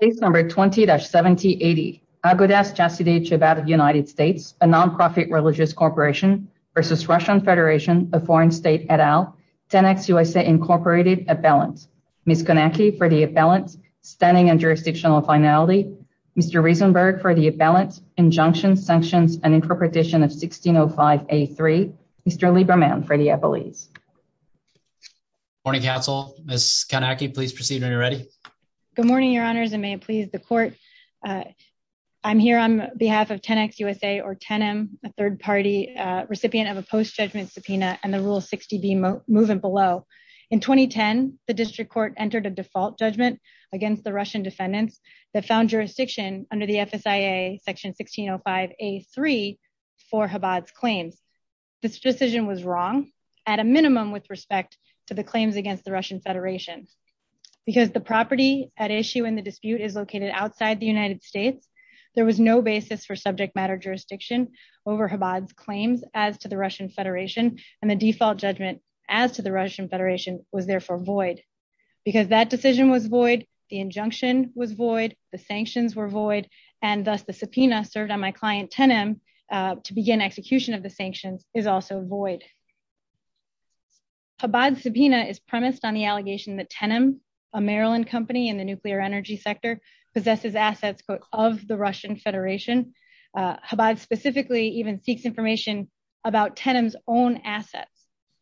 Case number 20-7080. Agudas Chasidei Chabad of the United States, a non-profit religious corporation versus Russian Federation, a foreign state et al., 10x USA Incorporated, appellant. Ms. Kanaki for the appellant, standing and jurisdictional finality. Mr. Rosenberg for the appellant, injunctions, sanctions, and interpretation of 1605A3. Mr. Lieberman for the appellees. Good morning, counsel. Ms. Kanaki, please proceed when you're ready. Good morning, your honors, and may it please the court. I'm here on behalf of 10x USA or 10M, a third-party recipient of a post-judgment subpoena and the Rule 60B movement below. In 2010, the district court entered a default judgment against the Russian defendants that found jurisdiction under the FSIA Section 1605A3 for Chabad's claims. This decision was wrong. At a minimum with respect to the claims against the Russian Federation. Because the property at issue in the dispute is located outside the United States, there was no basis for subject matter jurisdiction over Chabad's claims as to the Russian Federation, and the default judgment as to the Russian Federation was therefore void. Because that decision was void, the injunction was void, the sanctions were void, and thus the subpoena served on my client 10M to begin execution of the sanctions is also void. Chabad's subpoena is premised on the allegation that 10M, a Maryland company in the nuclear energy sector, possesses assets of the Russian Federation. Chabad specifically even seeks information about 10M's own assets.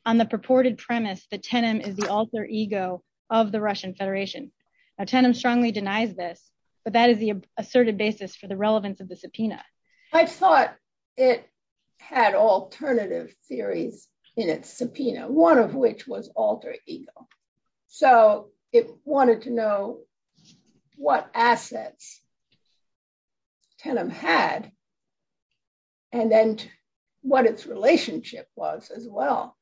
On the purported premise that 10M is the alter ego of the Russian Federation. 10M strongly denies this, but that is the basis for the relevance of the subpoena. I thought it had alternative theories in its subpoena, one of which was alter ego. So it wanted to know what assets 10M had, and then what its relationship was as well.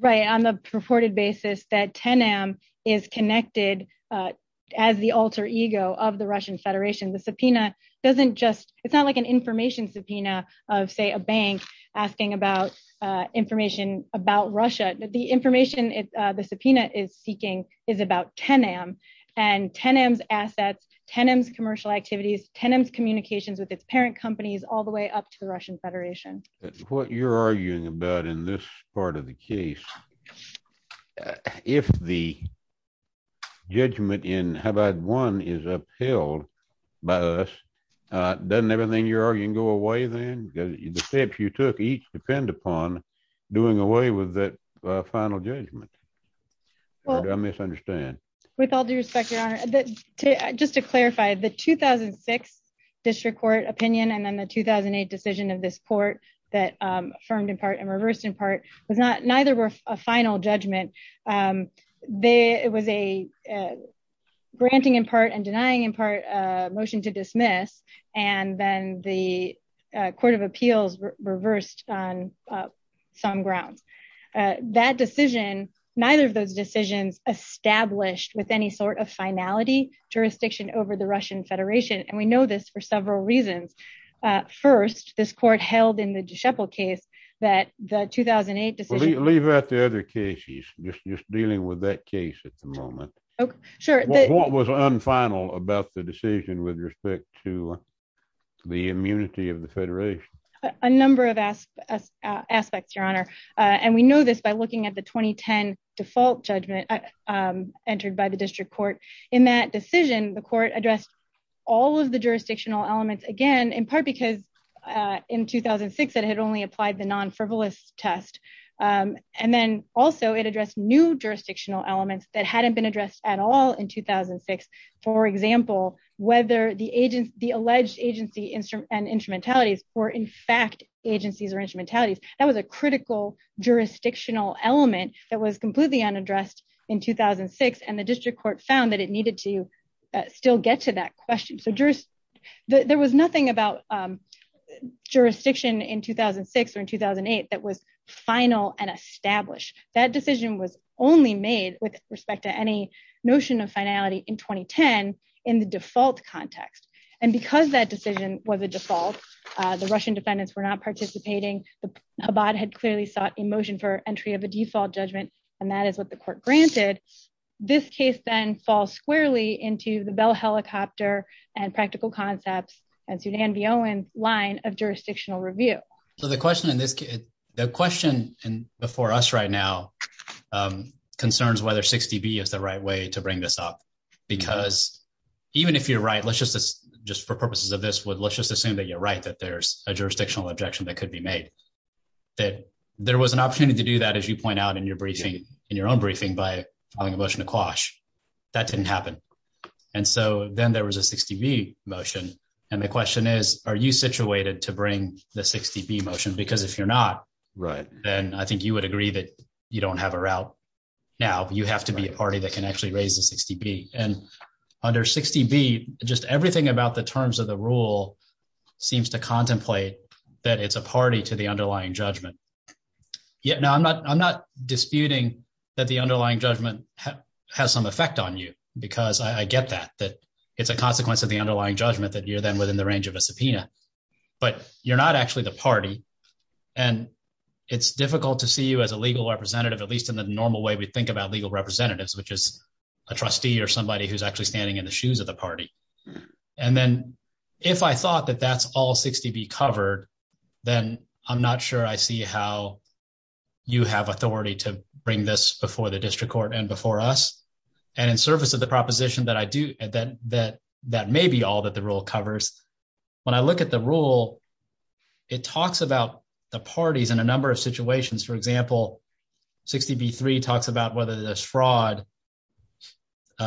Right, on the purported basis that 10M is connected as the alter ego of the Russian Federation, the subpoena doesn't just, it's not like an information subpoena of say a bank asking about information about Russia. The information the subpoena is seeking is about 10M, and 10M's assets, 10M's commercial activities, 10M's communications with its parent companies, all the way up to the Russian Federation. What you're arguing about in this part of the case, if the judgment in Chabad 1 is upheld by us, doesn't everything you're arguing go away then? Because the steps you took each depend upon doing away with that final judgment. Did I misunderstand? With all due respect, Your Honor, just to clarify, the 2006 district court opinion and then the 2008 decision of this court that affirmed in part and reversed in part, neither were a final judgment. It was a granting in part and denying in part motion to dismiss, and then the court of appeals reversed on some grounds. That decision, neither of those decisions established with any sort of finality jurisdiction over the Russian Federation, and we know this for several reasons. First, this court held in the Dishevel case that the 2008 decision... Leave out the other cases, just dealing with that case at the moment. What was unfinal about the decision with respect to the immunity of the aspects, Your Honor? And we know this by looking at the 2010 default judgment entered by the district court. In that decision, the court addressed all of the jurisdictional elements again, in part because in 2006, it had only applied the non-frivolous test. And then also, it addressed new jurisdictional elements that hadn't been addressed at all in 2006. For example, whether the alleged agency and instrumentalities were in fact agencies or instrumentalities. That was a critical jurisdictional element that was completely unaddressed in 2006, and the district court found that it needed to still get to that question. There was nothing about jurisdiction in 2006 or in 2008 that was final and established. That decision was only made with respect to any finality in 2010 in the default context. And because that decision was a default, the Russian defendants were not participating. The Chabad had clearly sought a motion for entry of a default judgment, and that is what the court granted. This case then falls squarely into the Bell Helicopter and Practical Concepts and Sudan B. Owen line of jurisdictional review. So the question in this... The question before us right now concerns whether 60B is the right way to bring this up. Because even if you're right, let's just, just for purposes of this, let's just assume that you're right, that there's a jurisdictional objection that could be made. That there was an opportunity to do that, as you point out in your briefing, in your own briefing, by filing a motion to quash. That didn't happen. And so then there was a 60B motion. And the question is, are you situated to bring the 60B motion? Because if you're not, then I think you agree that you don't have a route now. You have to be a party that can actually raise the 60B. And under 60B, just everything about the terms of the rule seems to contemplate that it's a party to the underlying judgment. Now, I'm not, I'm not disputing that the underlying judgment has some effect on you, because I get that, that it's a consequence of the underlying judgment that you're then within the range of a subpoena. But you're not actually the party. And it's difficult to see you as a legal representative, at least in the normal way we think about legal representatives, which is a trustee or somebody who's actually standing in the shoes of the party. And then, if I thought that that's all 60B covered, then I'm not sure I see how you have authority to bring this before the district court and before us. And in service of the proposition that I do, that may be all that the rule covers, when I look at the rule, it talks about the parties in a number of situations. For example, 60B-3 talks about whether there's fraud,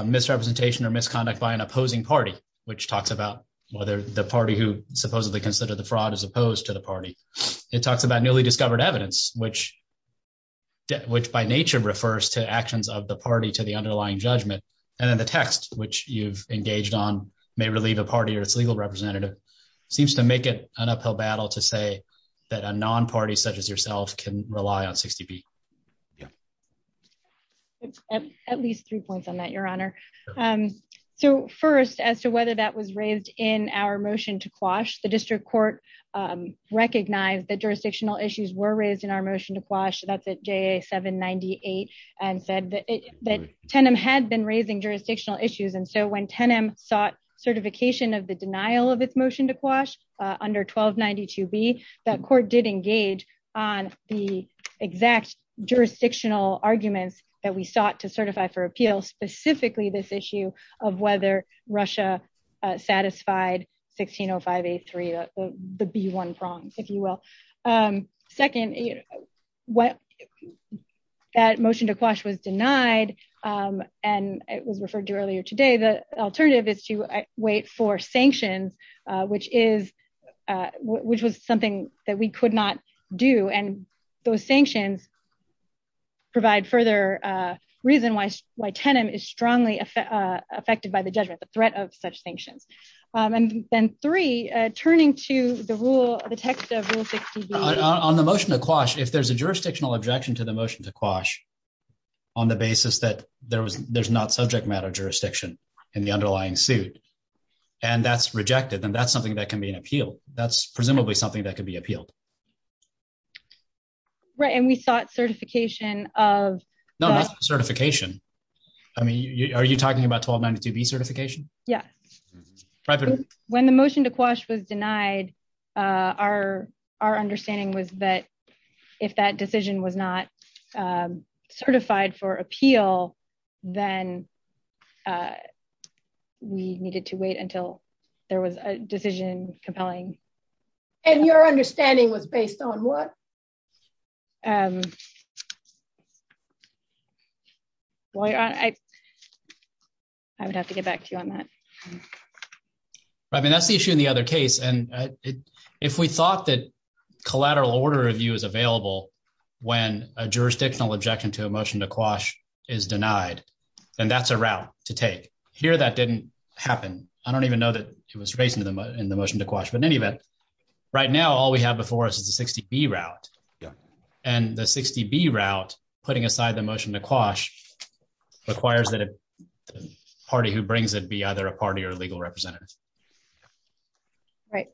misrepresentation, or misconduct by an opposing party, which talks about whether the party who supposedly considered the fraud is opposed to the party. It talks about newly discovered evidence, which by nature refers to actions of the party to the underlying judgment. And then the text, which you've engaged on, may relieve a party or its legal representative, seems to make it an issue of whether you as yourself can rely on 60B. Yeah. At least three points on that, Your Honor. So first, as to whether that was raised in our motion to quash, the district court recognized that jurisdictional issues were raised in our motion to quash, that's at JA-798, and said that TENM had been raising jurisdictional issues. And so when TENM sought certification of denial of its motion to quash under 1292B, that court did engage on the exact jurisdictional arguments that we sought to certify for appeal, specifically this issue of whether Russia satisfied 1605A-3, the B-1 prongs, if you will. Second, that motion to quash was denied, and it was referred to earlier today. The alternative is to wait for sanctions, which was something that we could not do. And those sanctions provide further reason why TENM is strongly affected by the judgment, the threat of such sanctions. And then three, turning to the text of Rule 60B. On the motion to quash, if there's a jurisdictional objection to the motion to quash on the basis that there's not subject matter jurisdiction in the underlying suit, and that's rejected, then that's something that can be appealed. That's presumably something that can be appealed. Right, and we sought certification of... No, not certification. I mean, are you talking about 1292B certification? Yeah. When the motion to quash was denied, our understanding was that if that decision was not certified for appeal, then we needed to wait until there was a decision compelling... And your understanding was based on what? I would have to get back to you on that. Right. I mean, that's the issue in the other case. And if we thought that collateral order review is available when a jurisdictional objection to a motion to quash is denied, then that's a route to take. Here, that didn't happen. I don't even know that it was raised in the motion to quash. But in any event, right now, all we have before us is the 60B route. And the 60B route, putting aside the motion to quash, requires that the party who brings it either a party or legal representative. Right.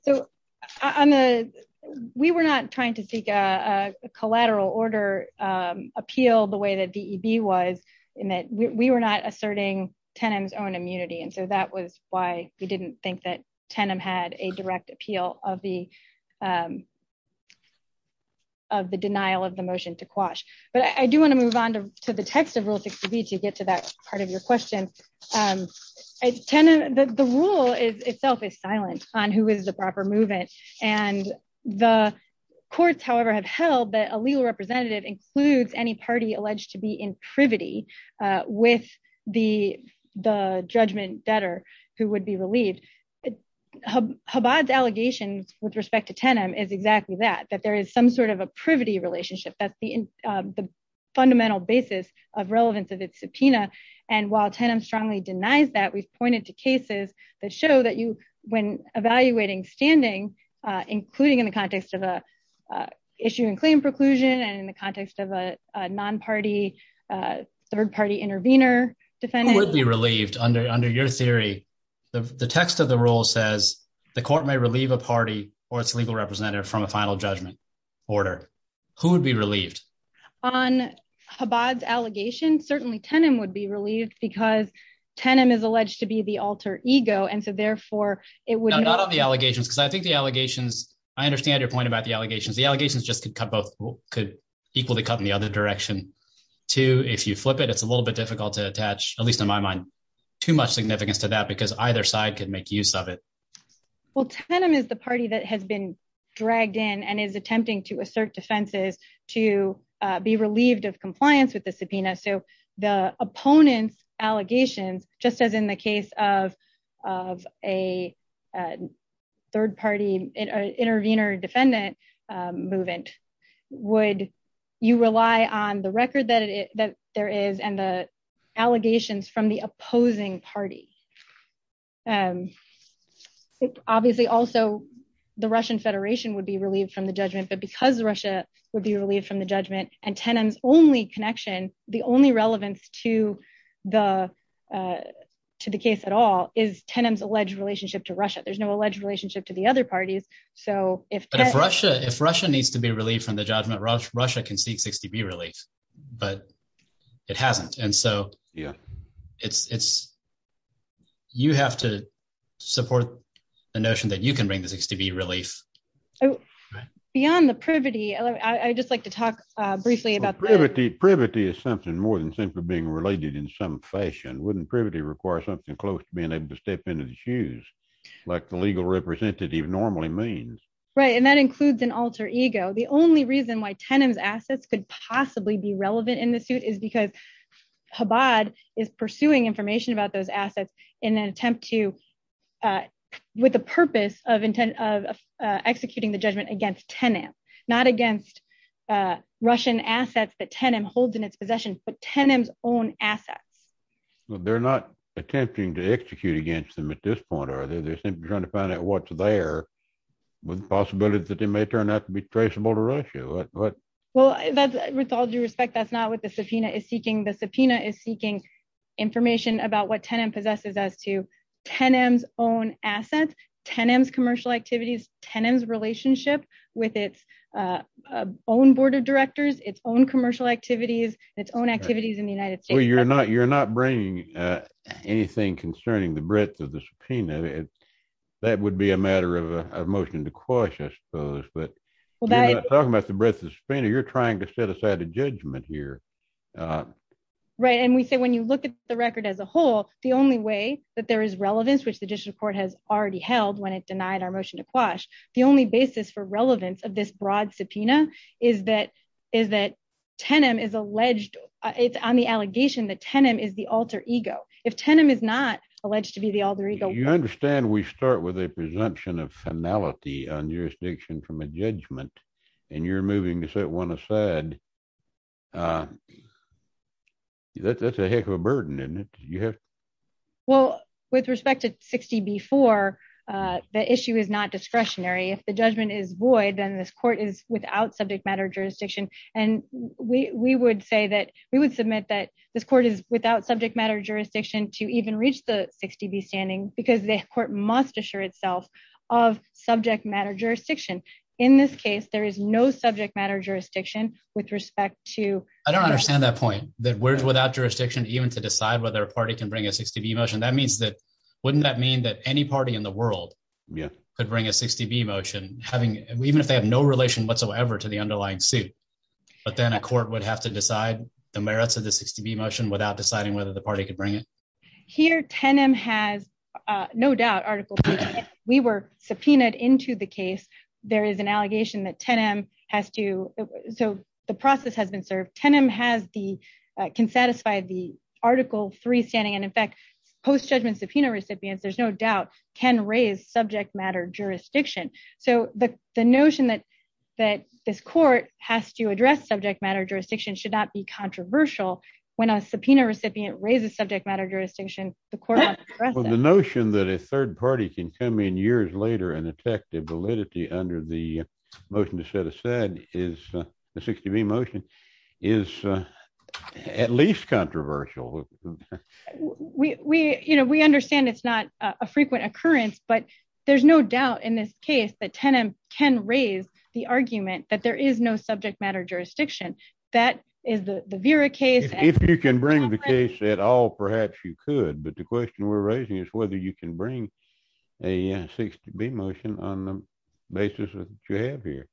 We were not trying to seek a collateral order appeal the way that DEB was, in that we were not asserting TENM's own immunity. And so that was why we didn't think that TENM had a direct appeal of the denial of the motion to quash. But I do want to move on to the text of Rule 60B to get to that part of your question. TENM, the rule itself is silent on who is the proper movement. And the courts, however, have held that a legal representative includes any party alleged to be in privity with the judgment debtor who would be relieved. Chabad's allegations with respect to TENM is exactly that, that there is some sort of a privity relationship. That's the fundamental basis of relevance of its denials. We've pointed to cases that show that when evaluating standing, including in the context of an issue and claim preclusion and in the context of a non-party, third-party intervener defendant. Who would be relieved? Under your theory, the text of the rule says the court may relieve a party or its legal representative from a final judgment order. Who would be relieved? On Chabad's allegation, certainly TENM would be relieved because TENM is alleged to be the alter ego. And so therefore it would- Not on the allegations, because I think the allegations, I understand your point about the allegations. The allegations just could cut both, could equally cut in the other direction too. If you flip it, it's a little bit difficult to attach, at least in my mind, too much significance to that because either side could make use of it. Well, TENM is the party that has been dragged in and is attempting to assert defenses to be relieved of compliance with the subpoena. So the opponent's allegations, just as in the case of a third-party intervener defendant movement, would you rely on the record that there is and the allegations from the opposing party? Obviously also the Russian Federation would be relieved from the judgment, but because Russia would be relieved from the judgment and TENM's only connection, the only relevance to the case at all is TENM's alleged relationship to Russia. There's no alleged relationship to the other parties. But if Russia needs to be relieved from the judgment, Russia can seek 60B relief, but it hasn't. And so you have to support the notion that you can bring the 60B relief. Beyond the privity, I'd just like to talk briefly about that. Privity is something more than simply being related in some fashion. Wouldn't privity require something close to being able to step into the shoes, like the legal representative normally means? Right, and that includes an alter ego. The only reason why TENM's assets could possibly be relevant in the suit is because Chabad is pursuing information about those assets in an attempt to, with the purpose of executing the judgment against TENM, not against Russian assets that TENM holds in its possession, but TENM's own assets. They're not attempting to execute against them at this point, are they? They're simply trying to find out what's there with the possibility that they may turn out to be traceable to Russia. Well, with all due respect, that's not what the subpoena is seeking. The subpoena is seeking information about what TENM possesses as to TENM's own assets, TENM's commercial activities, TENM's relationship with its own board of directors, its own commercial activities, its own activities in the United States. Well, you're not bringing anything concerning the breadth of the subpoena. That would be a matter of a motion to quash, I suppose, but you're not talking about the breadth of the subpoena. You're trying to look at the record as a whole. The only way that there is relevance, which the district court has already held when it denied our motion to quash, the only basis for relevance of this broad subpoena is that TENM is alleged, it's on the allegation that TENM is the alter ego. If TENM is not alleged to be the alter ego- You understand we start with a presumption of finality on jurisdiction from a judgment, and you're moving to set one aside. That's a heck of a burden, isn't it? Well, with respect to 60B4, the issue is not discretionary. If the judgment is void, then this court is without subject matter jurisdiction, and we would say that we would submit that this court is without subject matter jurisdiction to even reach the 60B because the court must assure itself of subject matter jurisdiction. In this case, there is no subject matter jurisdiction with respect to- I don't understand that point, that we're without jurisdiction even to decide whether a party can bring a 60B motion. Wouldn't that mean that any party in the world could bring a 60B motion, even if they have no relation whatsoever to the underlying suit, but then a court would have to decide the merits of the 60B motion without deciding whether the party could bring it? Here, TENM has no doubt, Article 3, if we were subpoenaed into the case, there is an allegation that TENM has to- The process has been served. TENM can satisfy the Article 3 standing, and in fact, post-judgment subpoena recipients, there's no doubt, can raise subject matter jurisdiction. The notion that this court has to address subject matter jurisdiction should not be controversial when a subpoena recipient raises subject matter jurisdiction. The notion that a third party can come in years later and attack the validity under the motion to set aside is the 60B motion is at least controversial. We understand it's not a frequent occurrence, but there's no doubt in this case that TENM can raise the argument that there is no subject matter jurisdiction. That is the Vera case- If you can bring the case at all, perhaps you could, but the question we're raising is whether you can bring a 60B motion on the basis of what you have here.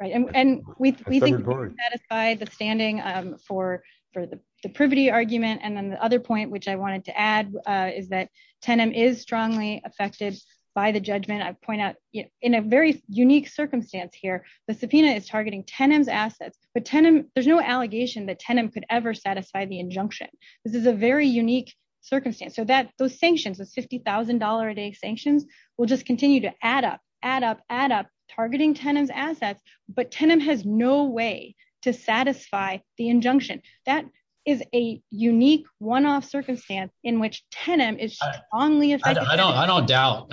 Right, and we think we've satisfied the standing for the privity argument, and then the other point which I wanted to add is that TENM is strongly affected by the judgment. I point out, in a very unique circumstance here, the subpoena is targeting TENM's assets, but TENM, there's no allegation that TENM could ever satisfy the injunction. This is a very unique circumstance, so that those sanctions, the $50,000 a day sanctions, will just continue to add up, add up, add up, targeting TENM's assets, but TENM has no way to satisfy the injunction. That is a unique one-off circumstance in which TENM is strongly affected. I don't doubt,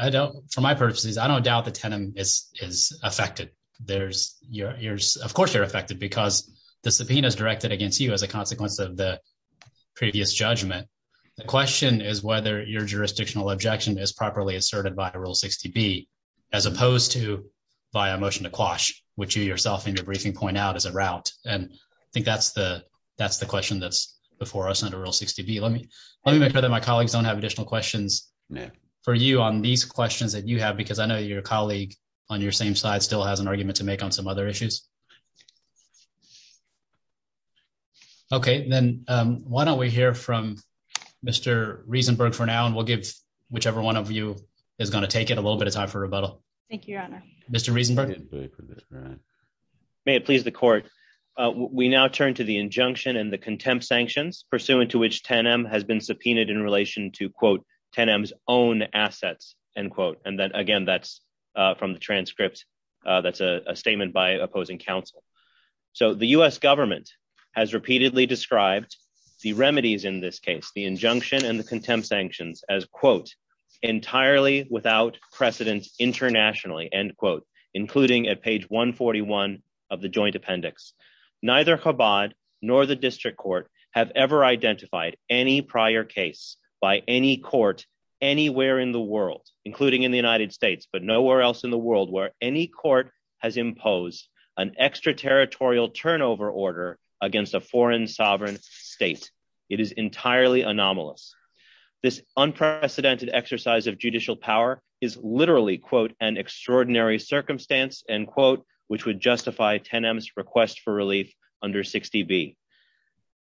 for my purposes, I don't doubt that TENM is affected. Of course they're affected because the subpoena is directed against you as a consequence of the previous judgment. The question is whether your jurisdictional objection is properly asserted by a Rule 60B as opposed to via a motion to quash, which you yourself in your briefing point out is a route, and I think that's the question that's before us under Rule 60B. Let me make sure that my colleagues don't have additional questions for you on these questions that you have, because I know your colleague on your same side still has an argument to make on some other issues. Okay, then why don't we hear from Mr. Riesenberg for now, and we'll give whichever one of you is going to take it a little bit of time for rebuttal. Thank you, Your Honor. Mr. Riesenberg. May it please the Court. We now turn to the injunction and the contempt sanctions pursuant to which TENM has been subpoenaed in relation to, quote, TENM's own assets, end quote, and then again that's from the transcript, that's a statement by opposing counsel. So the U.S. government has repeatedly described the remedies in this case, the injunction and the contempt sanctions as, quote, entirely without precedent internationally, end quote, including at page 141 of the joint appendix. Neither Chabad nor the district court have ever identified any prior case by any court anywhere in the world, including in the United States, but nowhere else in the world where any court has imposed an extraterritorial turnover order against a foreign sovereign state. It is entirely anomalous. This unprecedented exercise of judicial power is literally, quote, an extraordinary circumstance, end quote, which would justify TENM's request for relief under 60B.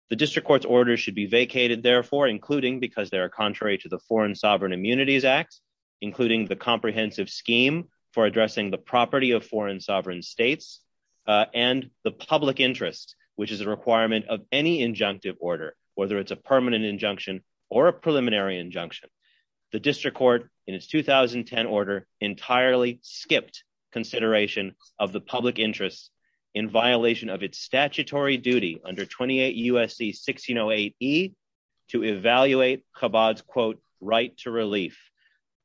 The district court's orders should be vacated, therefore, including because they are contrary to the Foreign Sovereign Immunities Act, including the comprehensive scheme for addressing the property of foreign sovereign states, and the public interest, which is a requirement of any injunctive order, whether it's a permanent injunction or a preliminary injunction. The district court in its 2010 order entirely skipped consideration of the public interest in violation of its statutory duty under 28 U.S.C. 1608E to evaluate Chabad's, quote, right to relief.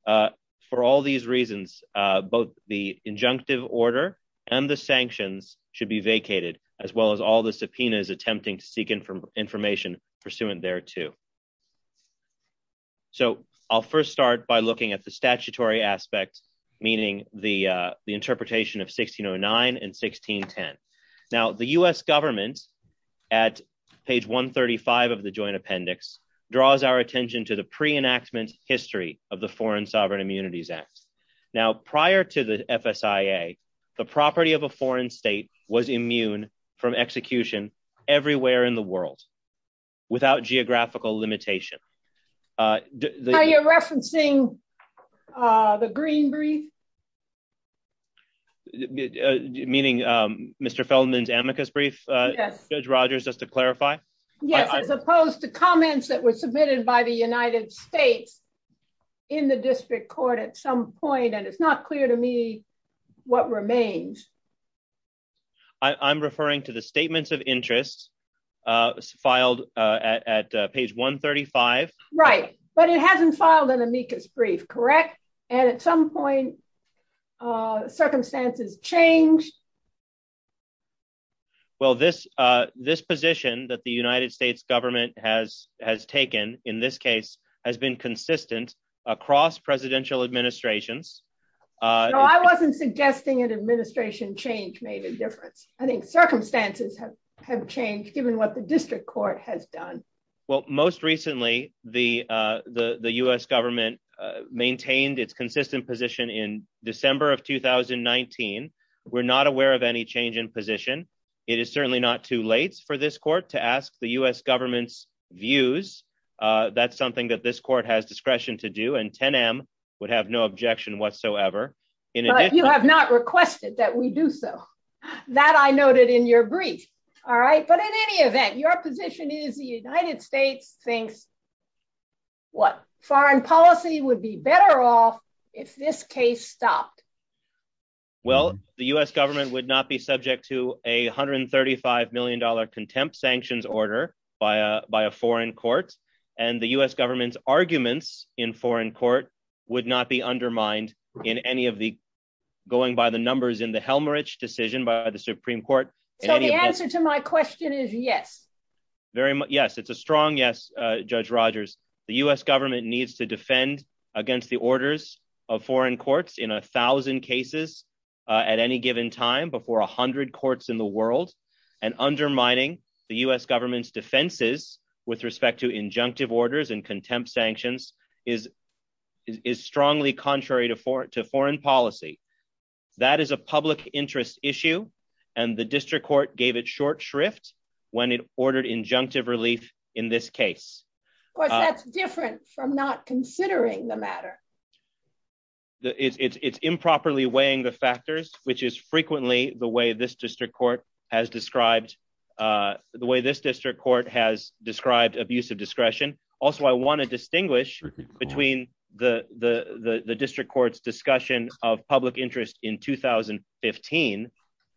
For all these reasons, both the injunctive order and the sanctions should be vacated, as well as all the subpoenas attempting to seek information pursuant thereto. So I'll first start by looking at the statutory aspect, meaning the interpretation of 1609 and 1610. Now, the U.S. government, at page 135 of the joint appendix, draws our attention to the pre-enactment history of the Foreign Sovereign Immunities Act. Now, prior to the FSIA, the property of a foreign state was immune from execution everywhere in the world without geographical limitation. Are you referencing the Green brief? Meaning Mr. Feldman's amicus brief? Yes. Judge Rogers, just to clarify? Yes, as opposed to and it's not clear to me what remains. I'm referring to the statements of interest filed at page 135. Right, but it hasn't filed an amicus brief, correct? And at some point, circumstances changed? Well, this position that the United States government has taken, in this case, has been consistent across presidential administrations. I wasn't suggesting an administration change made a difference. I think circumstances have changed, given what the district court has done. Well, most recently, the U.S. government maintained its consistent position in December of 2019. We're not aware of any change in position. It is certainly not too late for this court to ask the U.S. government's views. That's something that this court has discretion to do, and 10M would have no objection whatsoever. But you have not requested that we do so. That I noted in your brief, all right? But in any event, your position is the United States thinks, what, foreign policy would be better off if this case stopped? Well, the U.S. government would not be subject to a $135M contempt sanctions order by a foreign court. And the U.S. government's arguments in foreign court would not be undermined in any of the, going by the numbers in the Helmrich decision by the Supreme Court. So the answer to my question is yes. Yes, it's a strong yes, Judge Rogers. The U.S. government needs to defend against the orders of foreign courts in 1,000 cases at any given time before 100 courts in the world. And undermining the U.S. government's defenses with respect to injunctive orders and contempt sanctions is strongly contrary to foreign policy. That is a public interest issue, and the district court gave it short shrift when it ordered injunctive relief in this case. Of course, that's different from not considering the matter. It's improperly weighing the factors, which is frequently the way this district court has described, the way this district court has described abuse of discretion. Also, I want to distinguish between the district court's discussion of public interest in 2015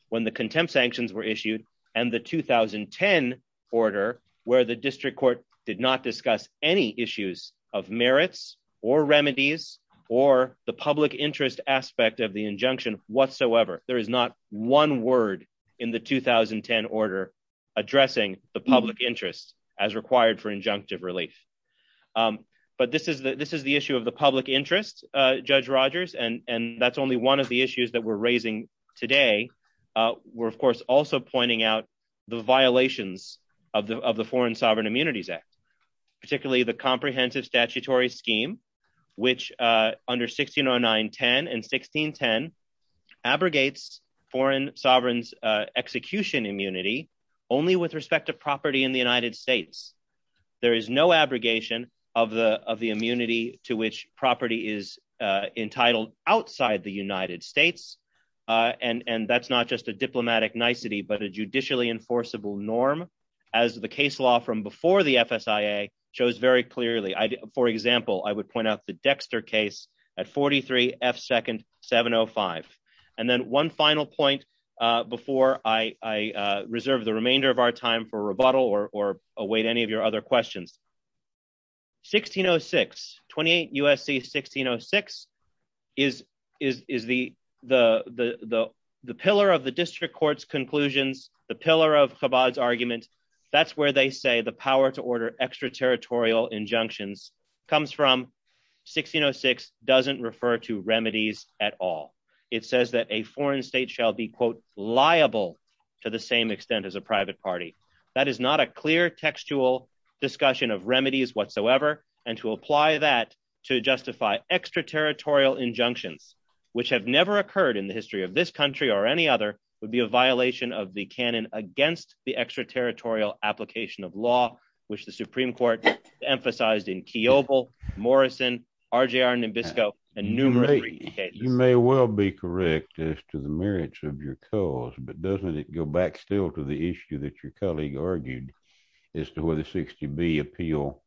when the contempt sanctions were issued, and the 2010 order where the district court did not discuss any issues of merits or remedies or the public interest aspect of the injunction whatsoever. There is not one word in the 2010 order addressing the public interest as required for injunctive relief. But this is the issue of the public interest, Judge Rogers, and that's only one of the issues that we're raising today. We're, of course, also pointing out the violations of the Foreign Sovereign Immunities Act, particularly the comprehensive statutory scheme, which under 160910 and 1610 abrogates foreign sovereigns' execution immunity only with respect to property in the United States. There is no abrogation of the immunity to which property is entitled outside the United States, and that's not just a diplomatic nicety, but a judicially enforceable norm, as the case law from before the FSIA shows very clearly. For example, I would point out the Dexter case at 43 F. Second 705. And then one final point before I reserve the remainder of our time for rebuttal or await any of your other questions. 1606, 28 U.S.C. 1606 is the pillar of the district court's conclusions, the pillar of Chabad's argument. That's where they say the power to order extraterritorial injunctions comes from. 1606 doesn't refer to remedies at all. It says that a foreign state shall be, quote, liable to the same extent as a private party. That is not a textual discussion of remedies whatsoever. And to apply that to justify extraterritorial injunctions, which have never occurred in the history of this country or any other, would be a violation of the canon against the extraterritorial application of law, which the Supreme Court emphasized in Kiobel, Morrison, RJR Nimbisco, and numerous cases. You may well be correct as to the merits of your cause, but doesn't it go back still to the issue that your colleague argued as to whether 60B appeal,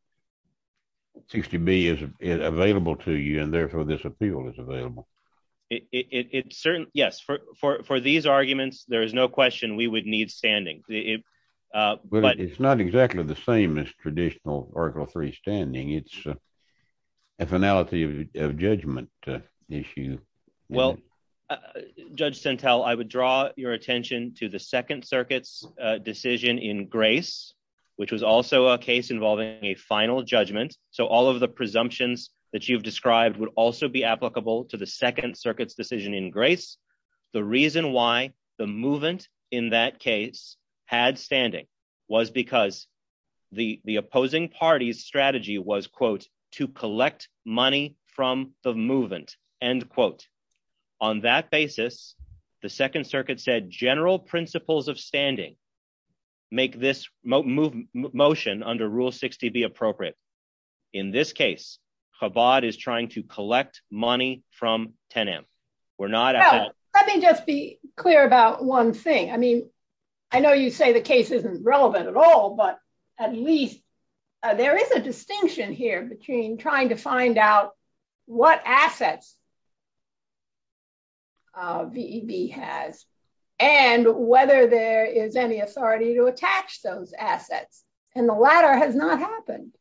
60B is available to you, and therefore this appeal is available? It certainly, yes. For these arguments, there is no question we would need standing. But it's not exactly the same as traditional Article III standing. It's a finality of judgment issue. Well, Judge Sentelle, I would draw your attention to the Second Circuit's decision in Grace, which was also a case involving a final judgment. So all of the presumptions that you've described would also be applicable to the Second Circuit's decision in Grace. The reason why the movement in that case had standing was because the opposing party's strategy was, quote, to collect money from the movement, end quote. On that basis, the Second Circuit said general principles of standing make this motion under Rule 60B appropriate. In this case, Chabad is trying to collect money from Tenem. Well, let me just be clear about one thing. I mean, I know you say the case isn't relevant at all, but at least there is a distinction here between trying to find out what assets VEB has and whether there is any authority to attach those assets. And the latter has not happened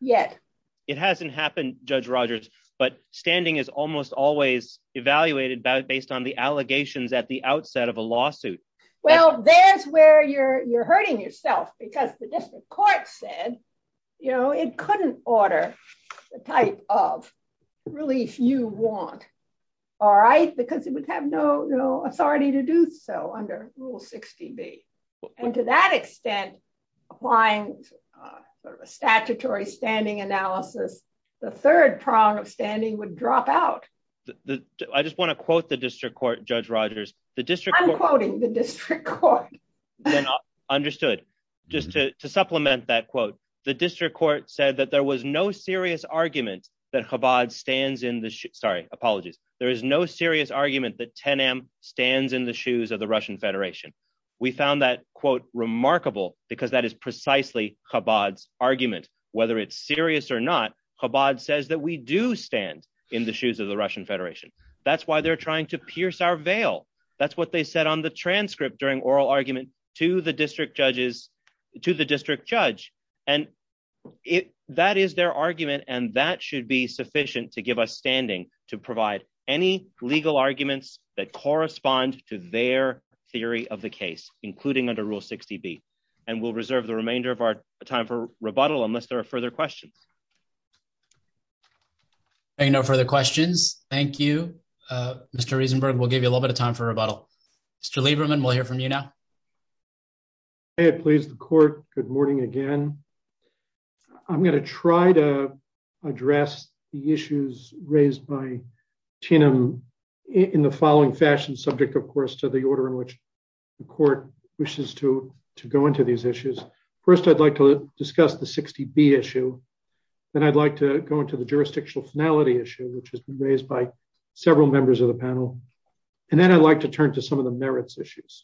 yet. It hasn't happened, Judge Rogers, but standing is almost always evaluated based on the allegations at the outset of a lawsuit. Well, there's where you're hurting yourself because the district court said it couldn't order the type of relief you want, all right, because it would have no authority to do so under Rule 60B. And to that extent, applying a statutory standing analysis, the third prong of standing would drop out. I just want to quote the district court, Judge Rogers. I'm quoting the district court. Understood. Just to supplement that quote, the district court said that there was no serious argument that Chabad stands in the... Sorry, apologies. There is no serious argument that Tenem stands in the shoes of the Russian Federation. We found that quote remarkable because that is precisely Chabad's argument. Whether it's serious or not, Chabad says that we do stand in the shoes of the Russian Federation. That's why they're trying to to the district judge. And that is their argument. And that should be sufficient to give us standing to provide any legal arguments that correspond to their theory of the case, including under Rule 60B. And we'll reserve the remainder of our time for rebuttal unless there are further questions. There are no further questions. Thank you, Mr. Rosenberg. We'll give a little bit of time for rebuttal. Mr. Lieberman, we'll hear from you now. May it please the court. Good morning again. I'm going to try to address the issues raised by Tenem in the following fashion, subject, of course, to the order in which the court wishes to go into these issues. First, I'd like to discuss the 60B issue. Then I'd like to go into the jurisdictional finality issue, which has been raised by Tenem. And then I'd like to turn to some of the merits issues.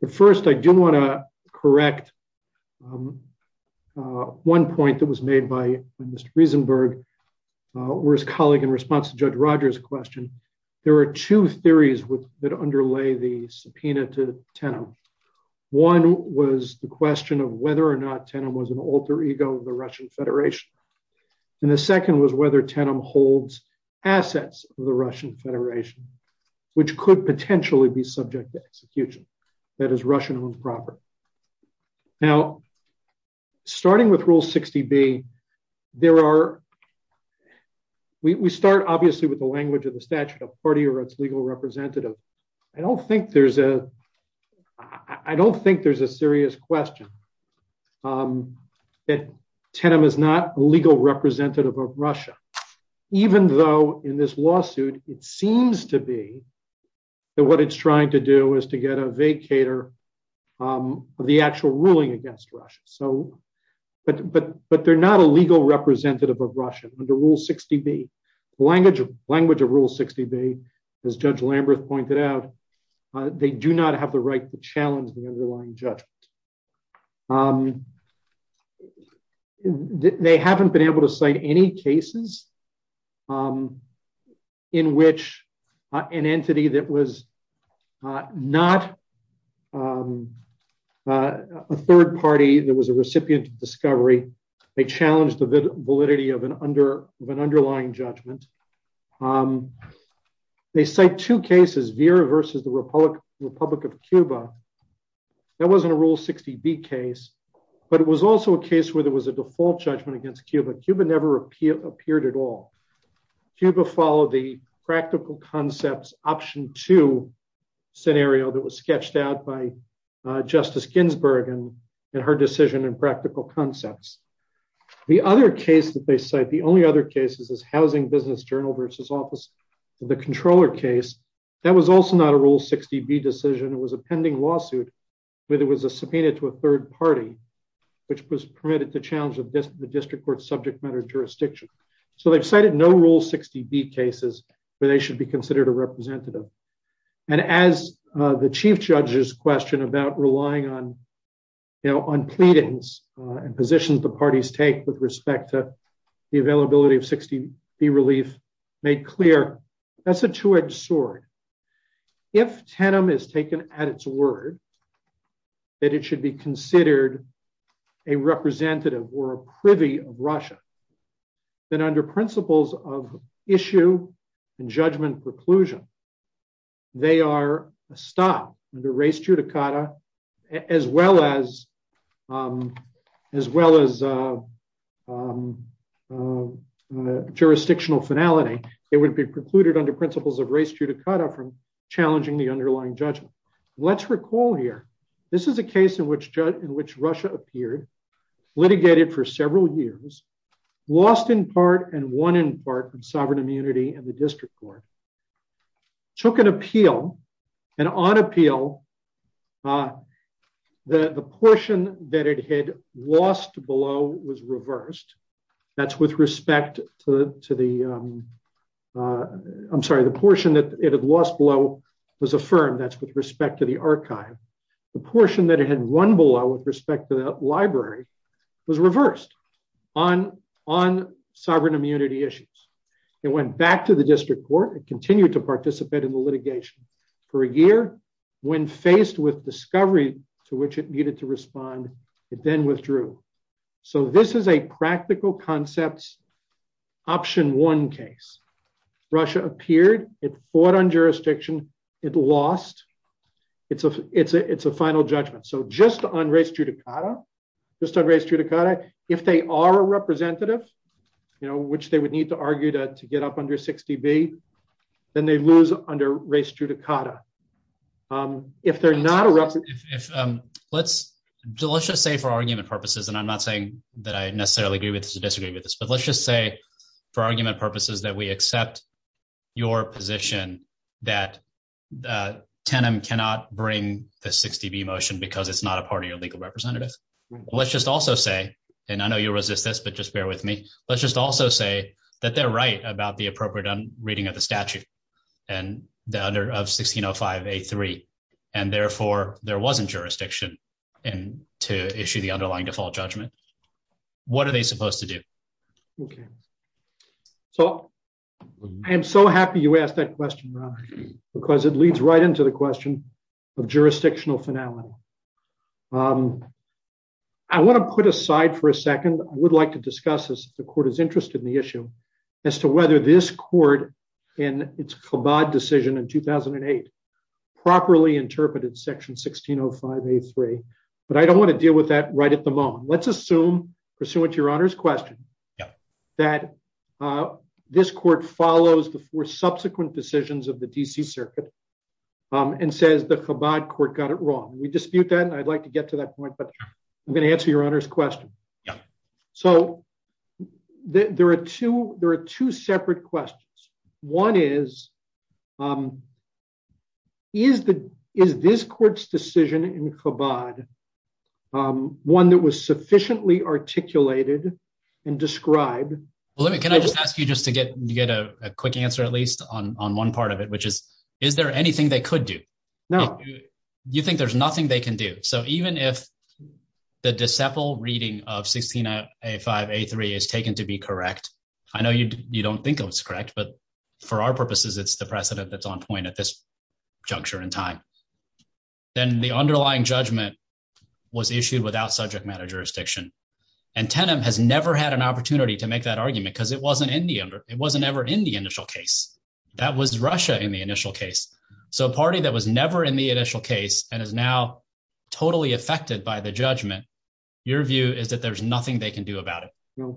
But first, I do want to correct one point that was made by Mr. Rosenberg or his colleague in response to Judge Rogers' question. There are two theories that underlay the subpoena to Tenem. One was the question of whether or not Tenem was an alter ego of the Russian Federation. And the second was whether Tenem holds assets of Russian Federation, which could potentially be subject to execution, that is Russian-owned property. Now, starting with Rule 60B, we start obviously with the language of the statute of party or its legal representative. I don't think there's a serious question that Tenem is not a legal representative of Russia. It seems to be that what it's trying to do is to get a vacator of the actual ruling against Russia. But they're not a legal representative of Russia under Rule 60B. The language of Rule 60B, as Judge Lamberth pointed out, they do not have the right to which an entity that was not a third party that was a recipient of discovery. They challenged the validity of an underlying judgment. They cite two cases, Vera versus the Republic of Cuba. That wasn't a Rule 60B case. But it was also a case where there was a default judgment against Cuba. Cuba never appeared at all. Cuba followed the practical concepts option two scenario that was sketched out by Justice Ginsburg in her decision and practical concepts. The other case that they cite, the only other cases is Housing Business Journal versus Office of the Comptroller case. That was also not a Rule 60B decision. It was a pending lawsuit, where there was a subpoena to a third party, which was permitted to challenge the district court subject matter jurisdiction. They've cited no Rule 60B cases where they should be considered a representative. As the Chief Judge's question about relying on pleadings and positions the parties take with respect to the availability of 60B relief made clear, that's a two-edged sword. If Tenem is taken at its word, that it should be considered a representative or a privy of Russia, then under principles of issue and judgment preclusion, they are stopped under res judicata, as well as jurisdictional finality. It would be precluded under principles of res judicata, challenging the underlying judgment. Let's recall here, this is a case in which Russia appeared, litigated for several years, lost in part and won in part in sovereign immunity and the district court, took an appeal and on appeal, the portion that it had lost below was reversed. That's with respect to the archive. The portion that it had won below with respect to the library was reversed on sovereign immunity issues. It went back to the district court and continued to participate in the litigation. For a year, when faced with discovery to which it needed to respond, it then withdrew. This is a practical concepts option one case. Russia appeared, it fought on jurisdiction, it lost. It's a final judgment. Just on res judicata, if they are a representative, which they would need to argue to get up under 60B, then they lose under res judicata. If they're not a representative- Let's just say for argument purposes, and I'm not saying that I necessarily agree with this but let's just say for argument purposes that we accept your position that TENM cannot bring the 60B motion because it's not a part of your legal representative. Let's just also say, and I know you'll resist this but just bear with me, let's just also say that they're right about the appropriate reading of the statute of 1605A3 and therefore there wasn't jurisdiction and to issue the underlying default judgment. What are they supposed to do? Okay, so I am so happy you asked that question, Ron, because it leads right into the question of jurisdictional finality. I want to put aside for a second, I would like to discuss this if the court is interested in the issue, as to whether this court in its Chabad decision in 2008 properly interpreted section 1605A3, but I don't want to deal with that right at the moment. Let's assume, pursuant to your honor's question, that this court follows the four subsequent decisions of the D.C. Circuit and says the Chabad court got it wrong. We dispute that and I'd like to get to that point but I'm going to answer your honor's question. So there are two separate questions. One is, is this court's decision in Chabad one that was sufficiently articulated and described? Can I just ask you just to get a quick answer at least on one part of it, which is is there anything they could do? No. You think there's nothing they can do? So even if the Deciple reading of 1605A3 is taken to be correct, I know you don't think it was correct, but for our purposes it's the precedent that's on point at this juncture in time, then the underlying judgment was issued without subject matter jurisdiction and Tenem has never had an opportunity to make that argument because it wasn't ever in the initial case. That was Russia in the initial case. So a party that was never in the initial case and is now totally affected by the judgment, your view is that there's nothing they can do about it?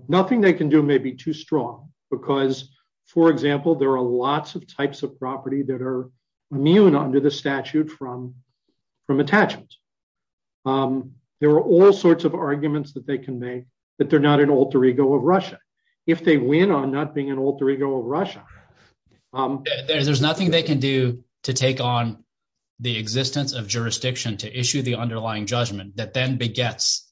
Nothing they can do may be too strong because, for example, there are lots of types of property that are immune under the statute from attachment. There are all sorts of arguments that they can make that they're not an alter ego of Russia. If they win on not being an alter ego of Russia, there's nothing they can do to take on the existence of jurisdiction to issue the underlying judgment that then begets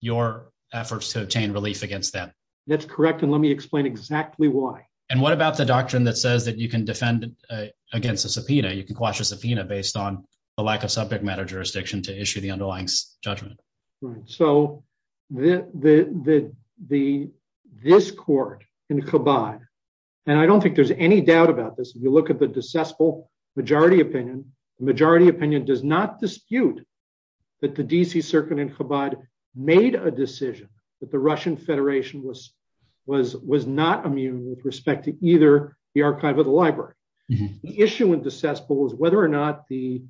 your efforts to obtain relief against them. That's correct, and let me explain exactly why. And what about the doctrine that says that you can defend against a subpoena, you can quash a subpoena based on the lack of subject matter jurisdiction to issue the underlying judgment? So this court in Chabad, and I don't think there's any doubt about this, if you look at the decessible majority opinion, the majority opinion does not dispute that the DC circuit in Chabad made a decision that the Russian Federation was not immune with respect to either the archive or the library. The issue in decessible is whether or not the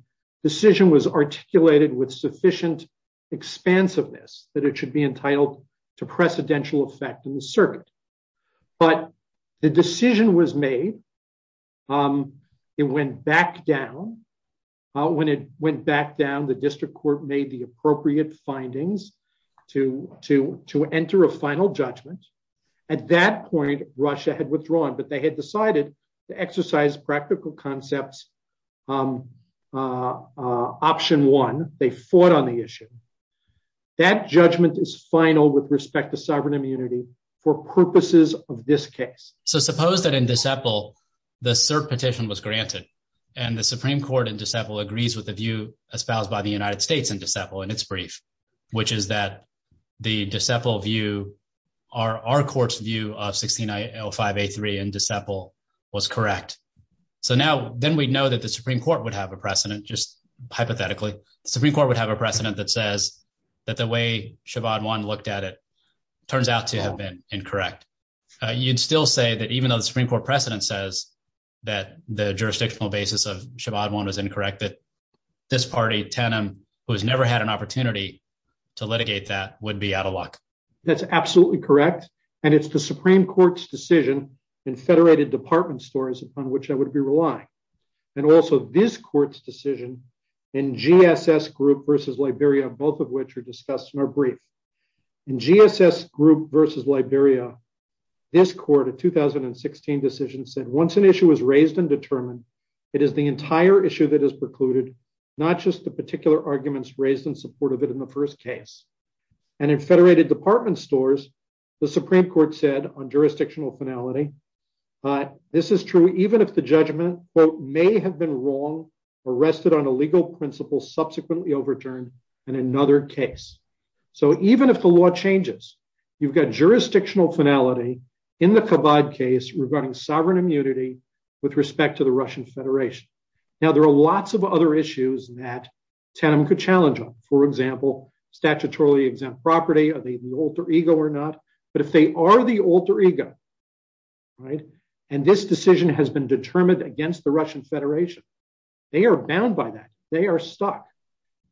sufficient expansiveness that it should be entitled to precedential effect in the circuit. But the decision was made. It went back down. When it went back down, the district court made the appropriate findings to enter a final judgment. At that point, Russia had withdrawn, but they had decided to exercise practical concepts. Option one, they fought on the issue. That judgment is final with respect to sovereign immunity for purposes of this case. So suppose that in deceptible, the cert petition was granted. And the Supreme Court in deceptible agrees with the view espoused by the United States and deceptible in its brief, which is that the deceptible view are our court's view of 16, I L five, a three and deceptible was correct. So now, then we know that the Supreme Court would have a precedent, just hypothetically, Supreme Court would have a precedent that says that the way Chabad one looked at it, turns out to have been incorrect. You'd still say that even though the Supreme Court precedent says that the jurisdictional basis of Chabad one was incorrect, that this party tenem, who has never had an opportunity to litigate that would be out of luck. That's absolutely correct. And it's the Supreme Court's decision in federated department stores upon which I would be relying. And also this court's decision in GSS group versus Liberia, both of which are discussed in our brief in GSS group versus Liberia. This quarter 2016 decision said once an issue was raised and determined, it is the entire issue that is precluded, not just the particular arguments raised in support of it in the first case. And in federated department stores, the Supreme Court said on jurisdictional finality, this is true, even if the judgment may have been wrong, arrested on a legal principle, subsequently overturned and another case. So even if the law changes, you've got jurisdictional finality in the Chabad case regarding sovereign immunity with respect to the Russian Federation. Now there are lots of other issues that tenem could challenge on. For example, statutorily exempt property, are they the alter ego or not? But if they are the alter ego, right? And this decision has been determined against the Russian Federation. They are bound by that. They are stuck.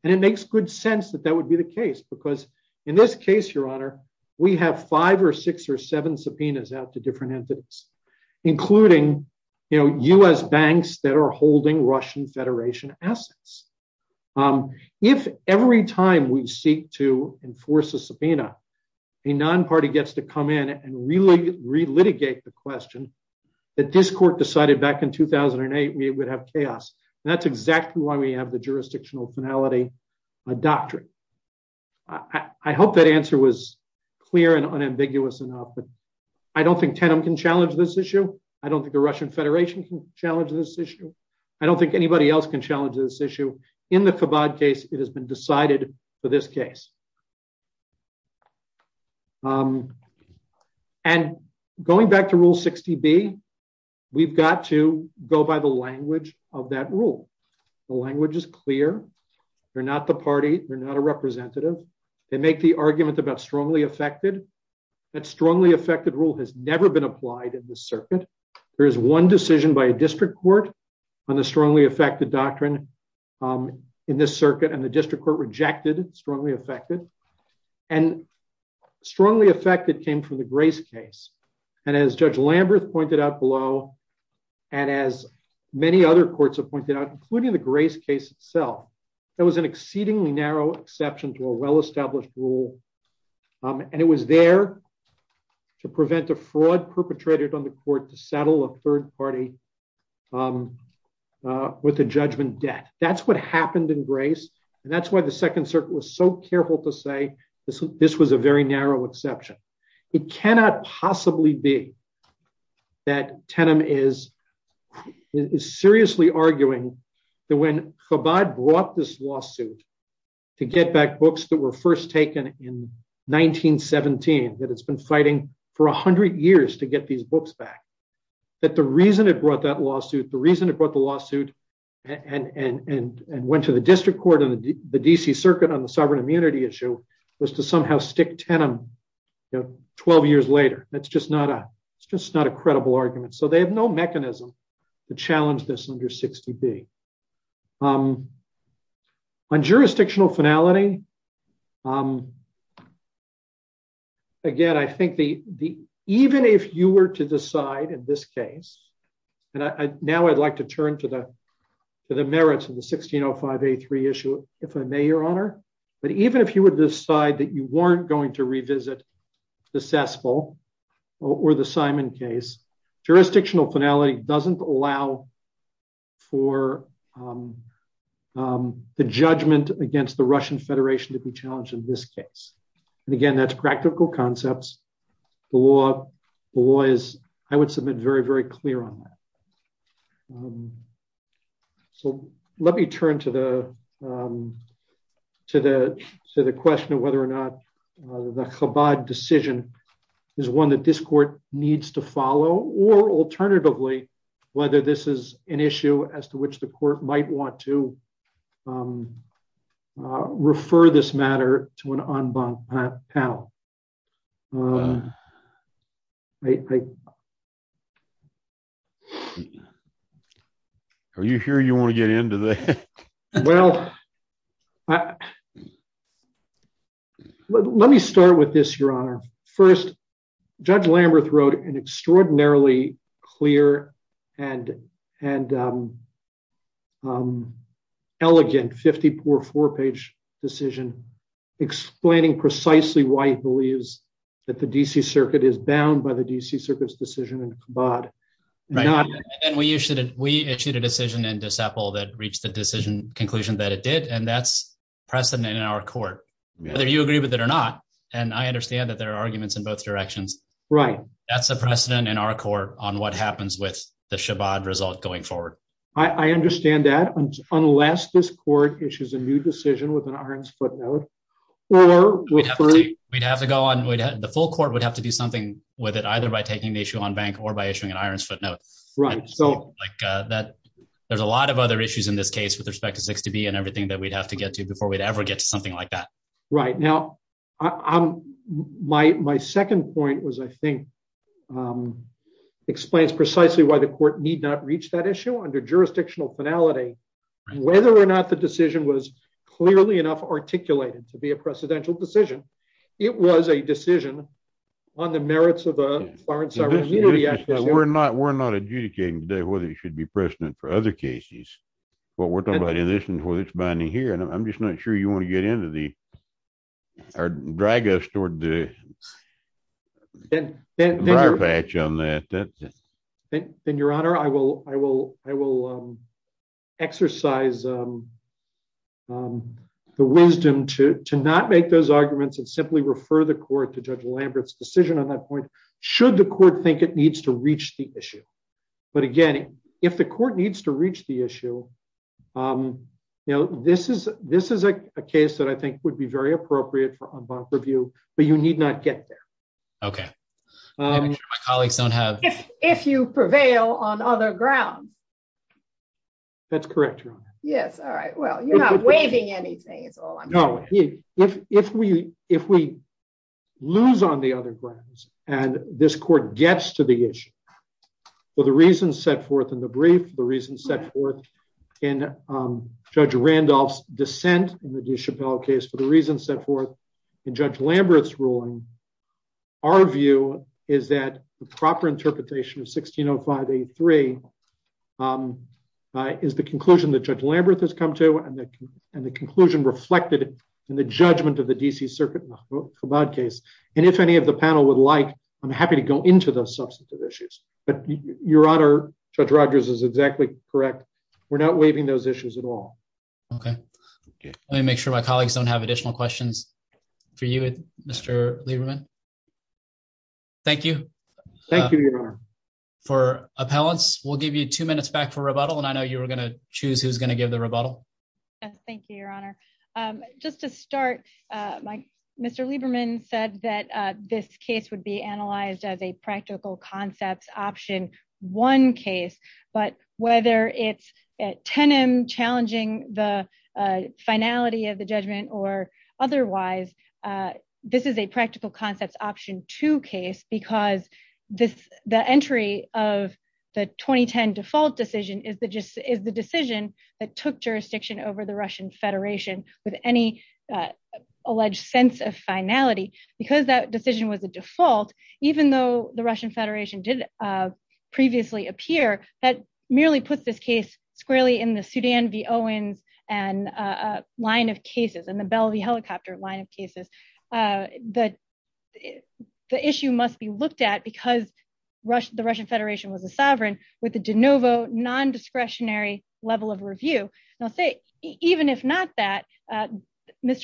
And it makes good sense that that would be the case because in this case, your honor, we have five or six or seven subpoenas out to different entities, including, you know, US banks that are holding Russian Federation assets. If every time we seek to enforce a subpoena, a non-party gets to come in and really relitigate the question that this court decided back in 2008, we would have chaos. And that's exactly why we have the jurisdictional finality doctrine. I hope that answer was clear and unambiguous enough, but I don't think tenem can challenge this issue. I don't think the Russian Federation can challenge this issue. I don't think anybody else can challenge this issue. In the Chabad case, it has been decided for this case. And going back to rule 60B, we've got to go by the language of that rule. The language is clear. They're not the party. They're not a representative. They make the argument about strongly affected rule has never been applied in this circuit. There is one decision by a district court on the strongly affected doctrine in this circuit, and the district court rejected strongly affected. And strongly affected came from the Grace case. And as Judge Lamberth pointed out below, and as many other courts have pointed out, including the Grace case itself, there was an exceedingly narrow exception to a well-established rule. And it was there to prevent a fraud perpetrated on the court to settle a third party with a judgment debt. That's what happened in Grace. And that's why the Second Circuit was so careful to say this was a very narrow exception. It cannot possibly be that tenem is seriously arguing that when Chabad brought this lawsuit to get back books that were first taken in 1917, that it's been fighting for 100 years to get these books back, that the reason it brought that lawsuit, the reason it brought the lawsuit and went to the district court and the DC Circuit on the sovereign immunity issue was to somehow stick tenem 12 years later. That's just not a argument. So they have no mechanism to challenge this under 60B. On jurisdictional finality, again, I think even if you were to decide in this case, and now I'd like to turn to the merits of the 1605A3 issue, if I may, Your Honor, but even if you would decide that you weren't going to jurisdictional finality doesn't allow for the judgment against the Russian Federation to be challenged in this case. And again, that's practical concepts. The law is, I would submit very, very clear on that. So let me turn to the question of whether or not the Chabad decision is one that this court needs to follow or alternatively, whether this is an issue as to which the court might want to refer this matter to an en banc panel. Are you sure you want to get into that? Well, let me start with this, Your Honor. First, Judge Lamberth wrote an extraordinarily clear and elegant 54-page decision explaining precisely why he believes that the DC Circuit is bound by the DC Circuit's decision in Chabad. We issued a decision in De Sapo that reached the decision conclusion that it did, and that's precedent in our court. Whether you agree with it or not, and I understand that there are arguments in both directions. That's a precedent in our court on what happens with the Chabad result going forward. I understand that unless this court issues a new decision with an iron's footnote. We'd have to go on, the full court would have to do something with it either by taking the issue en banc or by issuing an iron's footnote. Right. There's a lot of other issues in this case with respect to 6DB and everything that we'd have to get to before we'd ever get to something like that. Right. Now, my second point was, I think, explains precisely why the court need not reach that issue under jurisdictional finality, whether or not the decision was clearly enough articulated to be a precedential decision. It was a decision on the merits of a foreign sovereignty. We're not adjudicating today whether it should be precedent for other cases. What we're talking about in this one is binding here, and I'm just not sure you want to get into the, or drag us toward the prior patch on that. And your honor, I will exercise the wisdom to not make those arguments and simply refer the court to Judge Lambert's decision on that point, should the court think it needs to reach the issue. But again, if the court needs to reach the issue, this is a case that I think would very appropriate for en banc review, but you need not get there. Okay. If you prevail on other grounds. That's correct, your honor. Yes. All right. Well, you're not waiving anything, that's all I'm saying. No. If we lose on the other grounds and this court gets to the issue, for the reasons set forth in the brief, the reasons set forth in Judge Randolph's dissent in the DeChapelle case, for the reasons set forth in Judge Lambert's ruling, our view is that the proper interpretation of 1605A3 is the conclusion that Judge Lambert has come to, and the conclusion reflected in the judgment of the D.C. Circuit in the Chabad case. And if any of the panel would like, I'm happy to go into those substantive issues. But your honor, Judge Rogers is exactly correct. We're not waiving those issues at all. Okay. Let me make sure my colleagues don't have additional questions for you, Mr. Lieberman. Thank you. Thank you, your honor. For appellants, we'll give you two minutes back for rebuttal, and I know you were going to choose who's going to give the rebuttal. Thank you, your honor. Just to start, Mr. Lieberman said that this case would be tenem challenging the finality of the judgment or otherwise. This is a practical concepts option two case, because the entry of the 2010 default decision is the decision that took jurisdiction over the Russian Federation with any alleged sense of finality. Because that decision was a default, even though the Russian Federation did previously appear, that merely puts this case squarely in the Sudan v. Owens line of cases and the Bell v. Helicopter line of cases. The issue must be looked at because the Russian Federation was a sovereign with a de novo, non-discretionary level of review. Even if not that, Mr.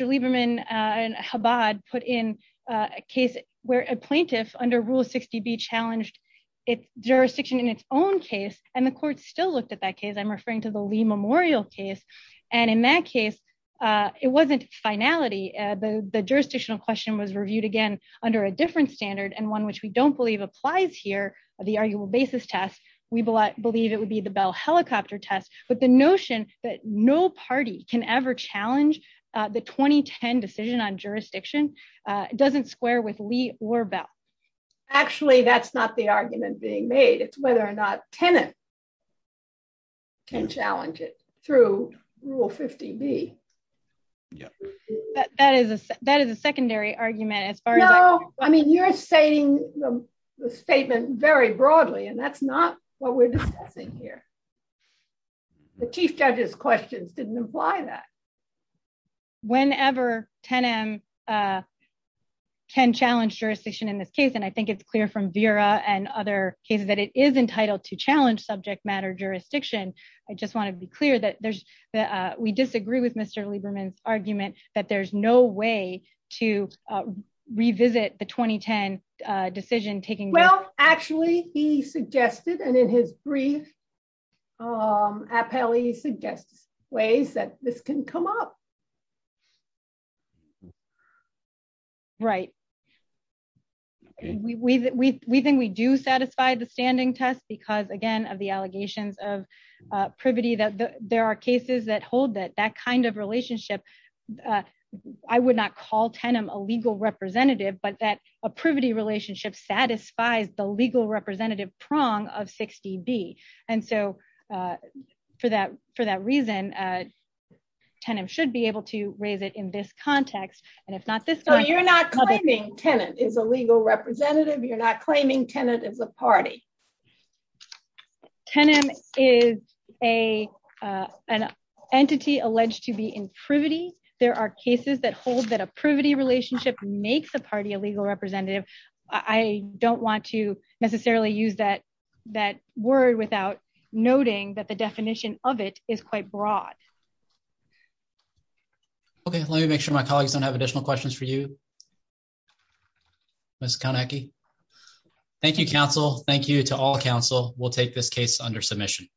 Lieberman and Chabad put in a case where a plaintiff under Rule 60B challenged jurisdiction in its own case, and the court still looked at that case. I'm referring to the Lee Memorial case. In that case, it wasn't finality. The jurisdictional question was reviewed again under a different standard, and one which we don't believe applies here, the arguable basis test. We believe it would be the Bell helicopter test, but the notion that no party can ever challenge the 2010 decision on jurisdiction doesn't square with Lee or Bell. Actually, that's not the argument being made. It's whether or not tenants can challenge it through Rule 50B. That is a secondary argument as far as I'm concerned. You're stating the statement very broadly, and that's not what we're discussing here. The chief judge's questions didn't imply that. Whenever 10M can challenge jurisdiction in this case, and I think it's clear from Vera and other cases that it is entitled to challenge subject matter jurisdiction, I just want to be clear that we disagree with Mr. Lieberman's argument that there's no way to revisit the 2010 decision taking place. Well, actually, he suggested, and in his brief appellee suggests ways that this can come up. Right. We think we do satisfy the standing test because, again, of the allegations of that kind of relationship, I would not call 10M a legal representative, but that a privity relationship satisfies the legal representative prong of 60B. For that reason, 10M should be able to raise it in this context, and if not this time- No, you're not claiming tenant is a legal representative. You're not claiming tenant is a party. 10M is an entity alleged to be in privity. There are cases that hold that a privity relationship makes a party a legal representative. I don't want to necessarily use that word without noting that the definition of it is quite broad. Okay. Let me make sure my colleagues don't have additional questions for you, please. Ms. Koniecki? Thank you, Council. Thank you to all Council. We'll take this case under submission.